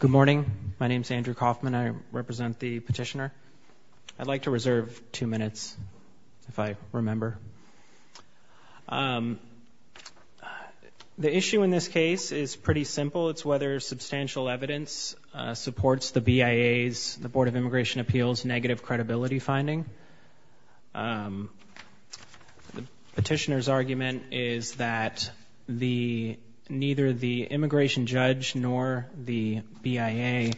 Good morning. My name is Andrew Kaufman. I represent the petitioner. I'd like to reserve two minutes, if I remember. The issue in this case is pretty simple. It's whether substantial evidence supports the BIA's, the Board of Immigration Appeals, negative credibility finding. The petitioner's argument is that neither the immigration judge nor the BIA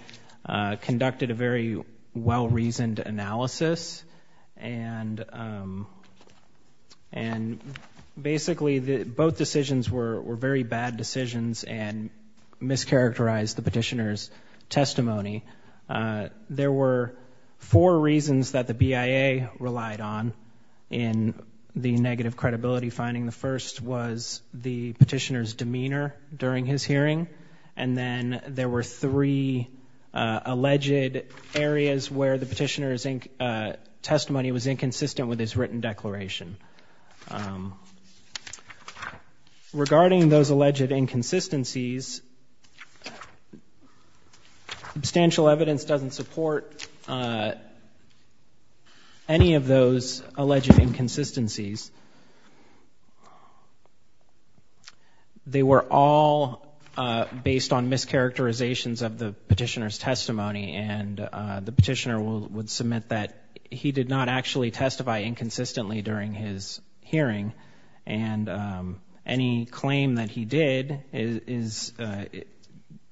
conducted a very well-reasoned analysis. And basically, both decisions were very bad decisions and mischaracterized the petitioner's testimony. There were four reasons that the BIA relied on in the negative credibility finding. The first was the petitioner's demeanor during his hearing. And then there were three alleged areas where the petitioner's testimony was inconsistencies. Substantial evidence doesn't support any of those alleged inconsistencies. They were all based on mischaracterizations of the petitioner's testimony. And the petitioner would submit that he did not actually testify inconsistently during his hearing. And any claim that he did is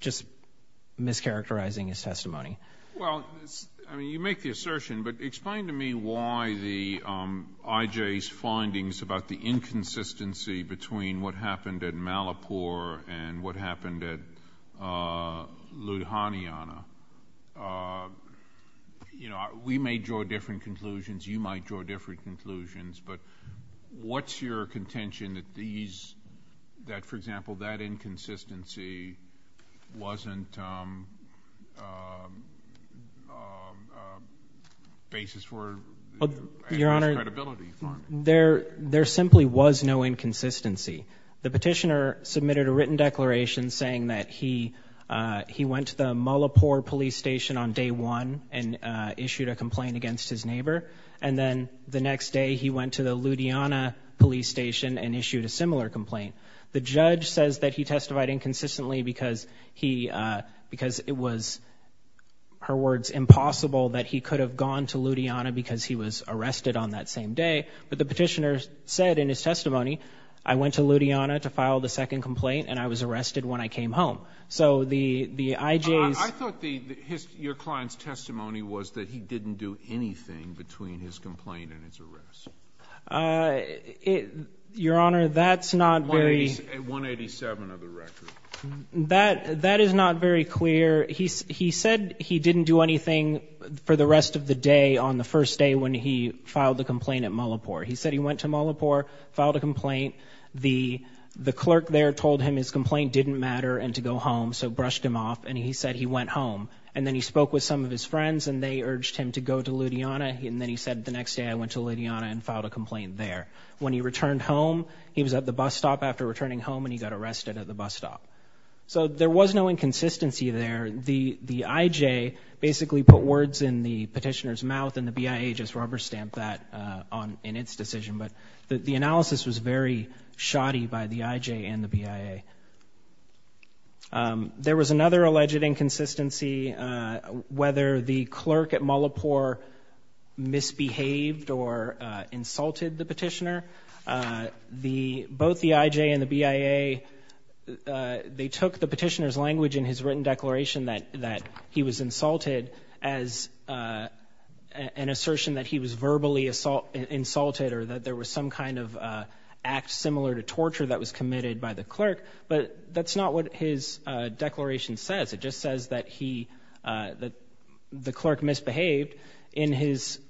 just mischaracterizing his testimony. Well, I mean, you make the assertion, but explain to me why the IJ's findings about the inconsistency between what happened at Malapur and what happened at Ludhiana. You know, we may draw different conclusions. You might draw different conclusions. But what's your contention that these, that for example, that inconsistency wasn't a basis for a miscredibility finding? Your Honor, there simply was no inconsistency. The petitioner submitted a written declaration saying that he went to the Malapur police station on day one and issued a complaint against his neighbor. And then the next day he went to the Ludhiana police station and issued a similar complaint. The judge says that he testified inconsistently because he, because it was, her words, impossible that he could have gone to Ludhiana because he was arrested on that same day. But the petitioner said in his testimony, I went to Ludhiana to file the second complaint and I was arrested when I came home. So the IJ's I thought the, his, your client's testimony was that he didn't do anything between his complaint and his arrest. Your Honor, that's not very 187 of the record. That is not very clear. He said he didn't do anything for the rest of the day on the first day when he filed the complaint at Malapur. He said he went to Malapur, filed a complaint. The clerk there told him his complaint didn't matter and to go home, so brushed him off. And he said he went home. And then he spoke with some of his friends and they urged him to go to Ludhiana. And then he said the next day I went to Ludhiana and filed a complaint there. When he returned home, he was at the bus stop after returning home and he got arrested at the bus stop. So there was no inconsistency there. The IJ basically put words in the petitioner's mouth and the BIA just rubber stamped that on, in its decision. But the analysis was very shoddy by the IJ and the BIA. There was another alleged inconsistency whether the clerk at Malapur misbehaved or insulted the petitioner. Both the IJ and the BIA, they took the petitioner's language in his written declaration that he was insulted as an assertion that he was verbally insulted or that there was some kind of act similar to torture that was committed by the clerk. But that's not what his declaration says. It just says that he, that the clerk misbehaved. In his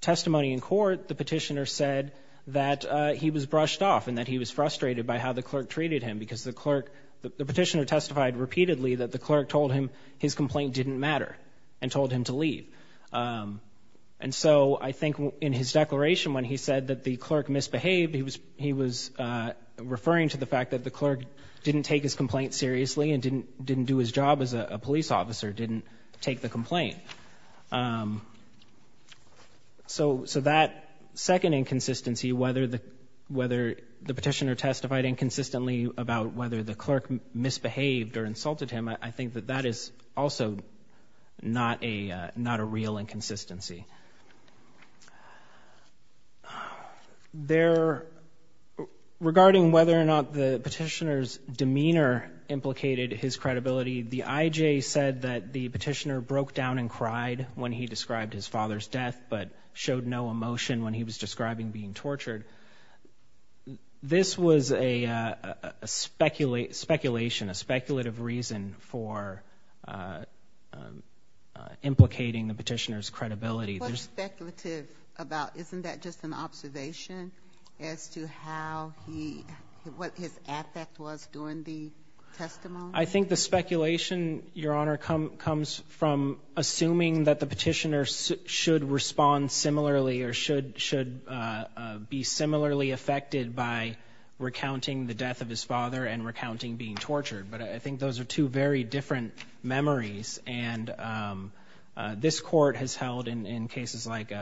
testimony in court, the petitioner said that he was brushed off and that he was frustrated by how the clerk treated him because the clerk, the petitioner testified repeatedly that the clerk told him his complaint didn't matter and told him to leave. And so I think in his testimony, he said that the clerk misbehaved. He was referring to the fact that the clerk didn't take his complaint seriously and didn't do his job as a police officer, didn't take the complaint. So that second inconsistency, whether the petitioner testified inconsistently about whether the clerk misbehaved or insulted him, I think that that is also not a real inconsistency. Regarding whether or not the petitioner's demeanor implicated his credibility, the IJ said that the petitioner broke down and cried when he described his father's death, but showed no emotion when he was describing being tortured. This was a speculation, a What's speculative about, isn't that just an observation as to how he, what his affect was during the testimony? I think the speculation, Your Honor, comes from assuming that the petitioner should respond similarly or should be similarly affected by recounting the death of his father and recounting being tortured. But I think those are two very different memories. And this court has held in cases like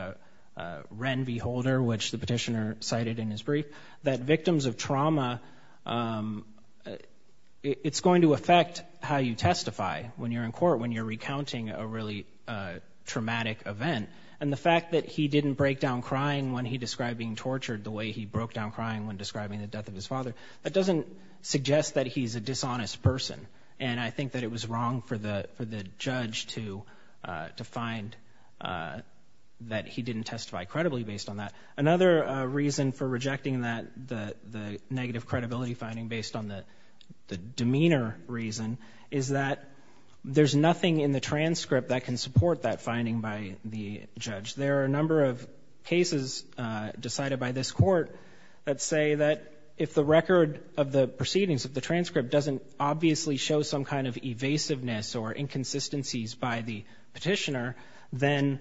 Wren v. Holder, which the petitioner cited in his brief, that victims of trauma, it's going to affect how you testify when you're in court, when you're recounting a really traumatic event. And the fact that he didn't break down crying when he described being tortured the way he broke down crying when describing the death of his father, that doesn't suggest that he's a dishonest person. And I think that it was wrong for the judge to find that he didn't testify credibly based on that. Another reason for rejecting the negative credibility finding based on the demeanor reason is that there's nothing in the transcript that can support that finding by the judge. There are a number of cases decided by this court that say that if the record of the proceedings, if the transcript doesn't obviously show some kind of evasiveness or inconsistencies by the petitioner, then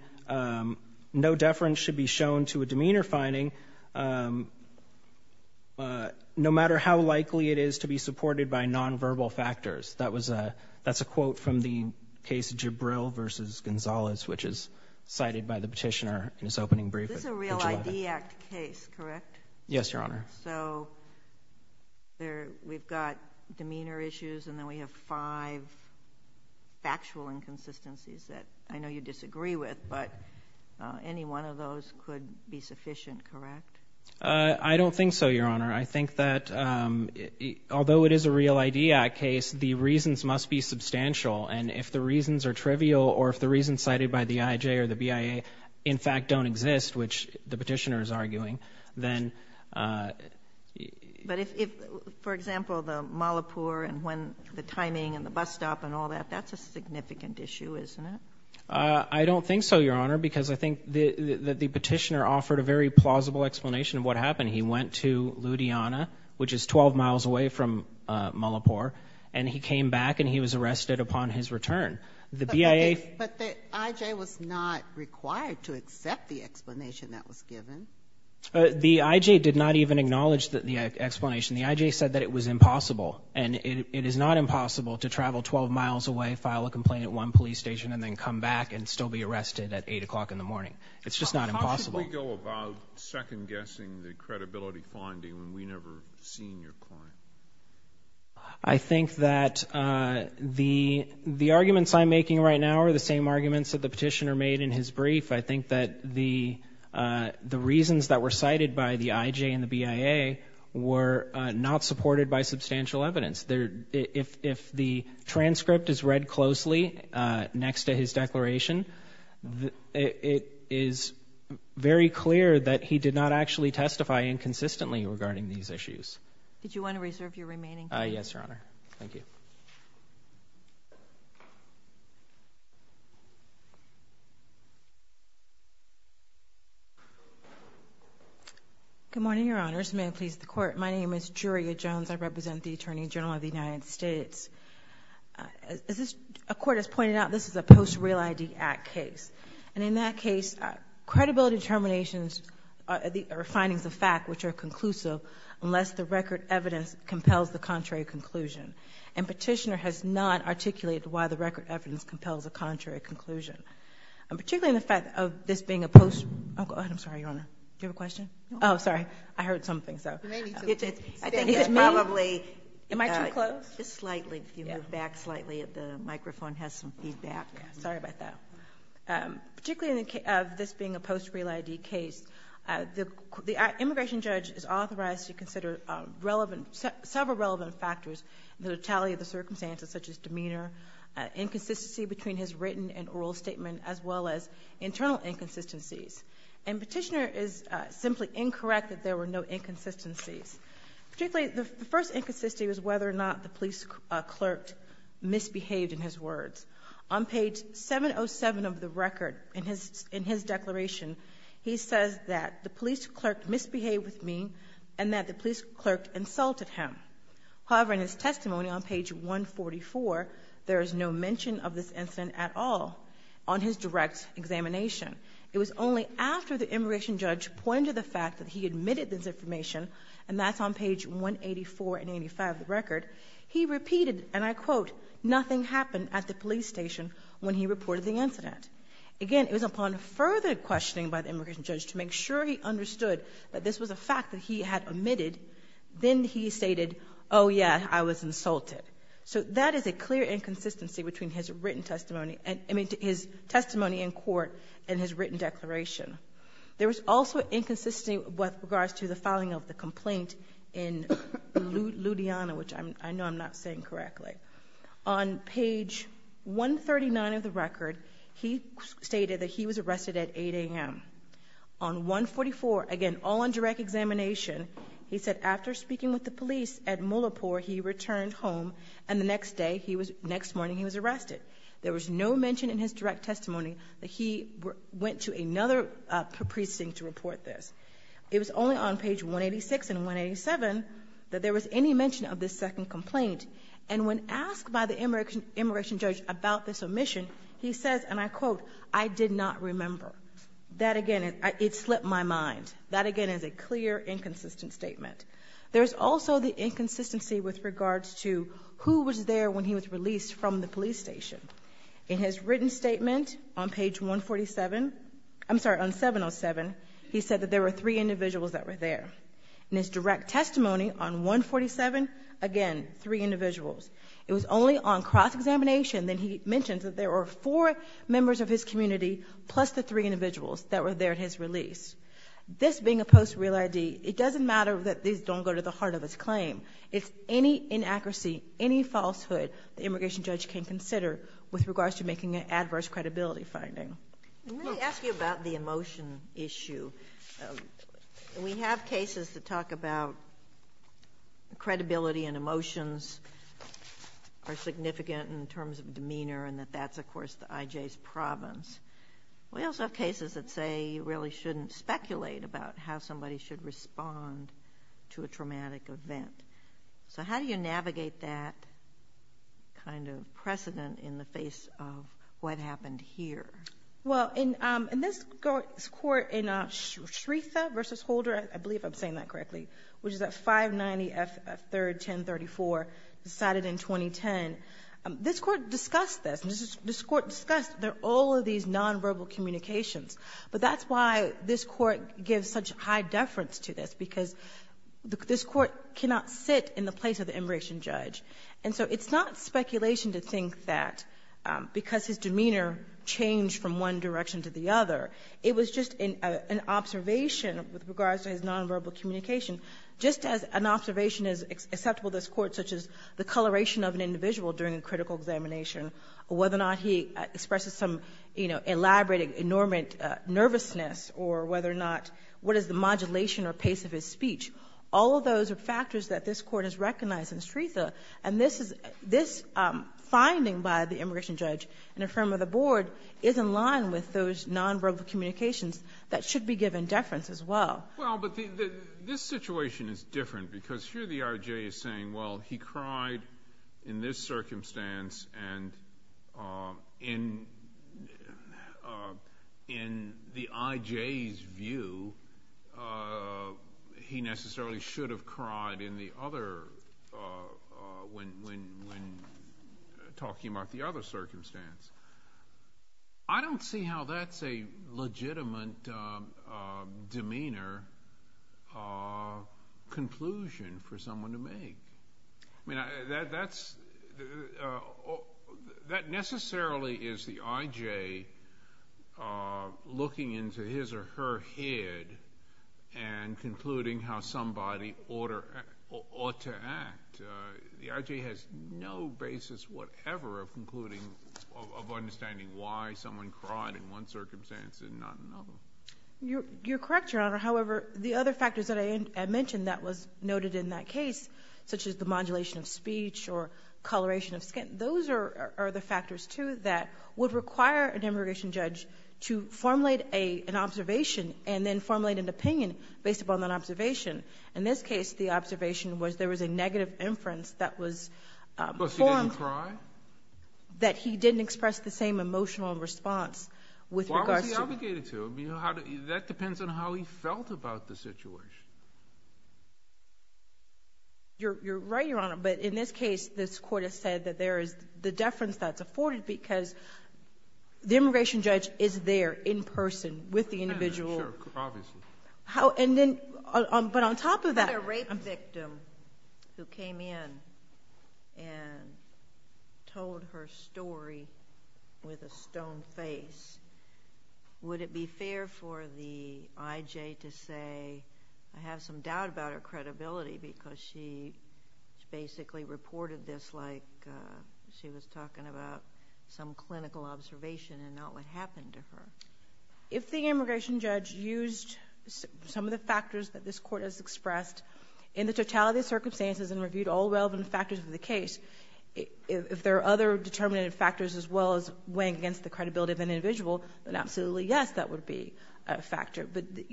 no deference should be shown to a demeanor finding no matter how likely it is to be supported by nonverbal factors. That's a quote from the case of Jibril v. Gonzalez, which is cited by the petitioner in his opening brief. Is this a Real ID Act case, correct? Yes, Your Honor. So, we've got demeanor issues and then we have five factual inconsistencies that I know you disagree with, but any one of those could be sufficient, correct? I don't think so, Your Honor. I think that although it is a Real ID Act case, the reasons must be substantial. And if the reasons are trivial or if the reasons cited by the IJ or the BIA in fact don't exist, which the petitioner is arguing, then... But if, for example, the Malapur and when the timing and the bus stop and all that, that's a significant issue, isn't it? I don't think so, Your Honor, because I think that the petitioner offered a very plausible explanation of what happened. He went to Ludhiana, which is 12 miles away from Malapur, and he came back and he was arrested upon his return. The BIA... But the IJ was not required to accept the explanation that was given. The IJ did not even acknowledge the explanation. The IJ said that it was impossible, and it is not impossible to travel 12 miles away, file a complaint at one police station, and then come back and still be arrested at 8 o'clock in the morning. It's just not impossible. How could we go about second-guessing the credibility finding when we've never seen your client? I think that the arguments I'm making right now are the same arguments that the petitioner made in his brief. I think that the reasons that were cited by the IJ and the BIA were not supported by substantial evidence. If the transcript is read closely next to his declaration, it is very clear that he did not actually testify inconsistently regarding these issues. Did you want to reserve your remaining time? Yes, Your Honor. Thank you. Good morning, Your Honors. May I please the Court? My name is Juria Jones. I represent the Attorney General of the United States. As the Court has pointed out, this is a post-real I.D. Act case, and in that case, credibility determinations or findings of fact which are record evidence compels the contrary conclusion. Petitioner has not articulated why the record evidence compels a contrary conclusion. Particularly in the fact of this being a post-real I.D. case, the immigration judge is authorized to consider several relevant factors, the totality of the circumstances, such as demeanor, inconsistency between his written and oral statement, as well as internal inconsistencies. Petitioner is simply incorrect that there were no inconsistencies. Particularly, the first inconsistency was whether or not the police clerk misbehaved in his words. On page 707 of the record, in his declaration, he says that the police clerk misbehaved with me and that the police clerk insulted him. However, in his testimony on page 144, there is no mention of this incident at all on his direct examination. It was only after the immigration judge pointed to the fact that he admitted this information, and that's on page 184 and 185 of the record, he repeated, and I quote, nothing happened at the police station when he reported the further questioning by the immigration judge to make sure he understood that this was a fact that he had admitted. Then he stated, oh yeah, I was insulted. So that is a clear inconsistency between his written testimony, I mean, his testimony in court and his written declaration. There was also inconsistency with regards to the filing of the complaint in Ludiana, which I know I'm not saying correctly. On page 139 of the record, he stated that he was arrested at 8 a.m. On 144, again, all on direct examination, he said after speaking with the police at Mullapur, he returned home, and the next day, next morning, he was arrested. There was no mention in his direct testimony that he went to another precinct to report this. It was only on page 186 and 187 that there was any mention of this second complaint, and when asked by the immigration judge about this omission, he says, and I did not remember. That, again, it slipped my mind. That, again, is a clear inconsistent statement. There's also the inconsistency with regards to who was there when he was released from the police station. In his written statement on page 147, I'm sorry, on 707, he said that there were three individuals that were there. In his direct testimony on 147, again, three individuals. It was only on cross-examination that he mentioned that there were four members of his community plus the three individuals that were there at his release. This being a post-real ID, it doesn't matter that these don't go to the heart of his claim. It's any inaccuracy, any falsehood the immigration judge can consider with regards to making an adverse credibility finding. Let me ask you about the emotion issue. We have cases that talk about credibility and of course the IJ's province. We also have cases that say you really shouldn't speculate about how somebody should respond to a traumatic event. How do you navigate that kind of precedent in the face of what happened here? This court in Shretha v. Holder, I believe I'm saying that correctly, which is at 590 F3-1034, decided in 2010. This court discussed this. This court discussed all of these nonverbal communications, but that's why this court gives such high deference to this because this court cannot sit in the place of the immigration judge. It's not speculation to think that because his demeanor changed from one direction to the other. It was just an observation with regards to his nonverbal communication. Just as an observation is acceptable to this court, such as the coloration of an individual during a critical examination, whether or not he expresses some elaborated enormous nervousness, or what is the modulation or pace of his speech. All of those are factors that this court has recognized in Shretha. This finding by the immigration judge and a firm of the board is in line with those nonverbal communications that should be given deference as well. This situation is different because here the I.J. is saying, well, he cried in this circumstance and in the I.J.'s view, he necessarily should have cried when talking about the other circumstance. I don't see how that's a legitimate demeanor conclusion for someone to make. That necessarily is the I.J. looking into his or her head and concluding how somebody ought to act. The I.J. has no basis whatever of concluding, of understanding why someone cried in one circumstance and not another. You're correct, Your Honor. However, the other factors that I had mentioned that was noted in that case, such as the modulation of speech or coloration of skin, those are the factors too that would require an immigration judge to formulate an observation and then formulate an opinion based upon that observation. In this case, the observation was there was a form that he didn't express the same emotional response with regards to... Why was he obligated to? That depends on how he felt about the situation. You're right, Your Honor, but in this case, this court has said that there is the deference that's afforded because the immigration judge is there in person with the individual. Sure, obviously. But on top of that... A rape victim who came in and told her story with a stone face, would it be fair for the I.J. to say, I have some doubt about her credibility because she basically reported this like she was talking about some clinical observation and not what happened to her? If the immigration judge used some of the factors that this court has expressed in the totality of circumstances and reviewed all relevant factors of the case, if there are other determinative factors as well as weighing against the credibility of an individual, then absolutely, yes, that would be a factor.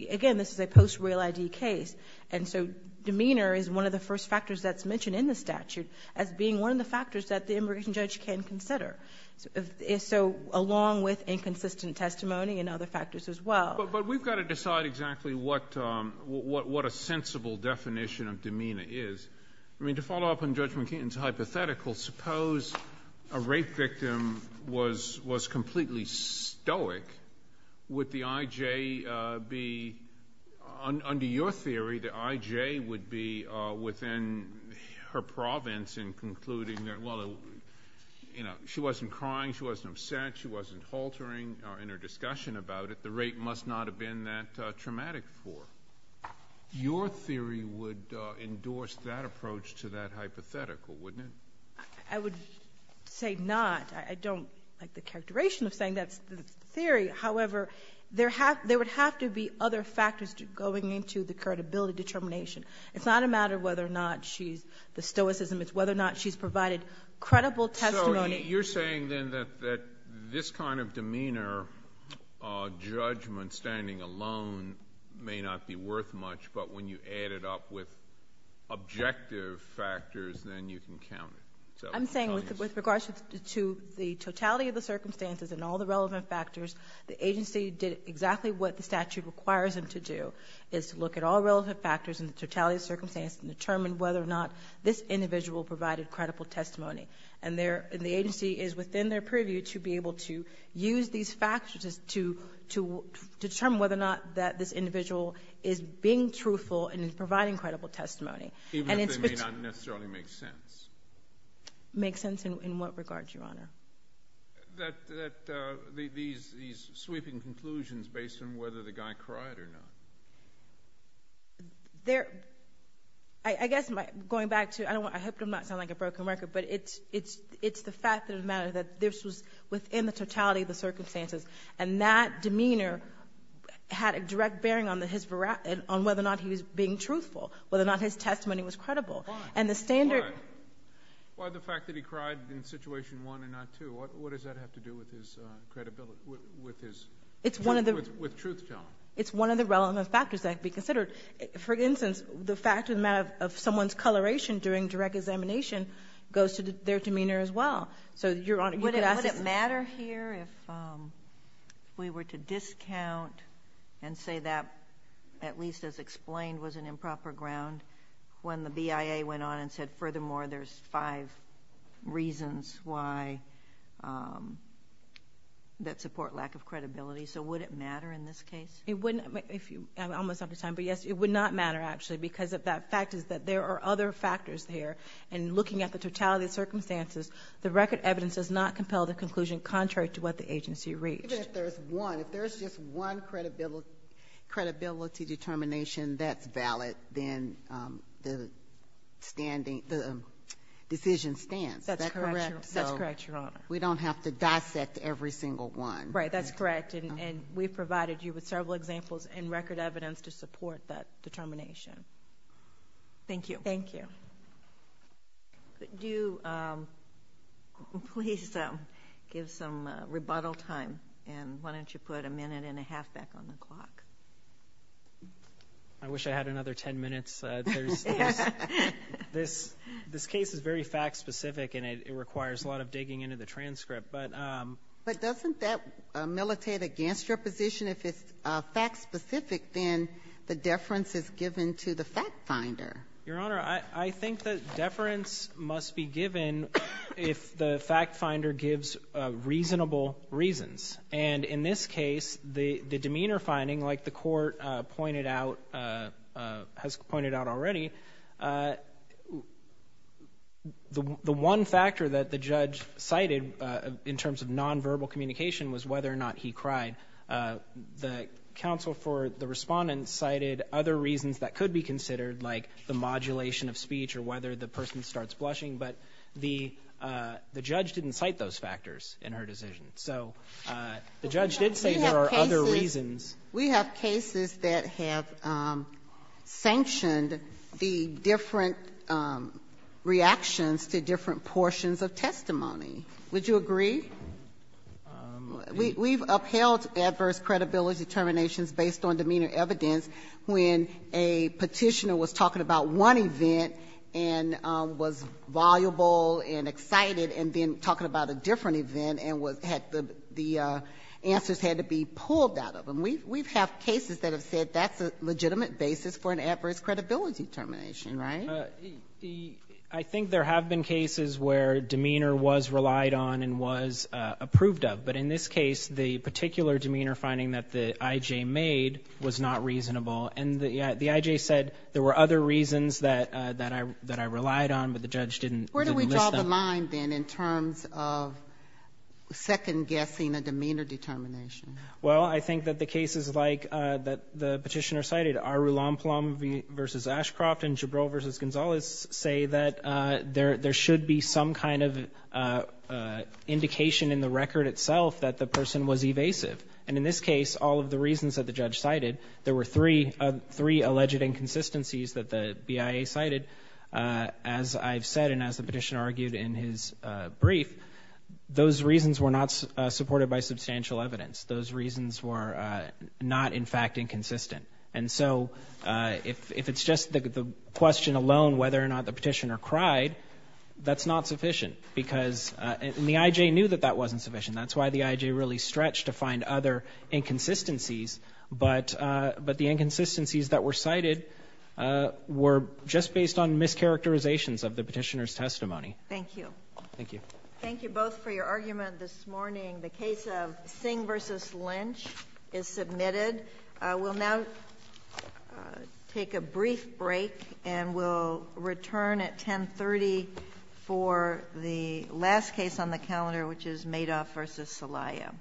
Again, this is a post-real ID case, and so demeanor is one of the first factors that's mentioned in the statute as being one of the determining and other factors as well. But we've got to decide exactly what a sensible definition of demeanor is. I mean, to follow up on Judge McKeon's hypothetical, suppose a rape victim was completely stoic, would the I.J. be... under your theory, the I.J. would be within her province in concluding that, well, she wasn't crying, she wasn't upset, she wasn't haltering in her discussion about it, the rape must not have been that traumatic for her. Your theory would endorse that approach to that hypothetical, wouldn't it? I would say not. I don't like the characterization of saying that's the theory. However, there would have to be other factors going into the credibility determination. It's not a So you're saying, then, that this kind of demeanor, judgment, standing alone, may not be worth much, but when you add it up with objective factors, then you can count it. I'm saying with regards to the totality of the circumstances and all the relevant factors, the agency did exactly what the statute requires them to do, is to look at all relevant factors and the totality of the circumstances and determine whether or not this individual provided credible testimony. And the agency is within their preview to be able to use these factors to determine whether or not this individual is being truthful and is providing credible testimony. Even if they may not necessarily make sense. Make sense in what regard, Your Honor? These sweeping conclusions based on whether the guy cried or not. I guess, going back to, I hope I'm not sounding like a broken record, but it's the fact that it matters that this was within the totality of the circumstances, and that demeanor had a direct bearing on whether or not he was being truthful, whether or not his testimony was credible. Why? And the standard Why the fact that he cried in situation one and not two? What does that have to do with his credibility, with truth telling? It's one of the relevant factors that have to be considered. For instance, the fact of the matter of someone's coloration during direct examination goes to their demeanor as well. So, Your Honor, you could ask us Would it matter here if we were to discount and say that, at least as explained, was an improper ground, when the BIA went on and said, furthermore, there's five reasons why that support lack of credibility? So, would it matter in this case? I'm almost out of time, but yes, it would not matter, actually, because of that fact is that there are other factors there, and looking at the totality of circumstances, the record evidence does not compel the conclusion contrary to what the agency reached. Even if there's one, if there's just one credibility determination that's valid, then the decision stands. That's correct, Your Honor. We don't have to dissect every single one. Right, that's correct, and we've provided you with several examples and record evidence to support that determination. Thank you. Thank you. Could you please give some rebuttal time, and why don't you put a minute and a half back on the clock? I wish I had another 10 minutes. This case is very fact-specific, and it requires a lot of digging into the transcript, but But doesn't that militate against your position? If it's fact-specific, then the deference is given to the fact-finder. Your Honor, I think that deference must be given if the fact-finder gives reasonable reasons, and in this case, the demeanor finding, like the Court has pointed out already, the one factor that the judge cited in terms of nonverbal communication was whether or not he cried. The counsel for the respondent cited other reasons that could be considered, like the modulation of speech or whether the person starts blushing, but the judge didn't cite those factors in her decision. So the judge did say there are other reasons. We have cases that have sanctioned the different reactions to different portions of testimony. Would you agree? We've upheld adverse credibility determinations based on demeanor evidence when a petitioner was talking about one event and was voluble and excited and then talking about a different event and the answers had to be pulled out of them. We have cases that have said that's a legitimate basis for an adverse credibility determination, right? I think there have been cases where demeanor was relied on and was approved of, but in this case, the particular demeanor finding that the I.J. made was not reasonable, and the I.J. said there were other reasons that I relied on, but the judge didn't list them. What's on the line, then, in terms of second-guessing a demeanor determination? Well, I think that the cases like the petitioner cited, Arulamplam v. Ashcroft and Gibralt v. Gonzalez, say that there should be some kind of indication in the record itself that the person was evasive, and in this case, all of the reasons that the judge cited, there were three alleged inconsistencies that the BIA cited, as I've said and as the petitioner argued in his brief, those reasons were not supported by substantial evidence. Those reasons were not, in fact, inconsistent. And so, if it's just the question alone whether or not the petitioner cried, that's not sufficient because the I.J. knew that that wasn't sufficient, that's why the I.J. really stretched to find other inconsistencies, but the inconsistencies that were cited were just based on mischaracterizations of the petitioner's testimony. Thank you. Thank you. Thank you both for your argument this morning. The case of Singh v. Lynch is submitted. We'll now take a brief break and we'll return at 10.30 for the last case on the calendar, which is Madoff v. Celaya.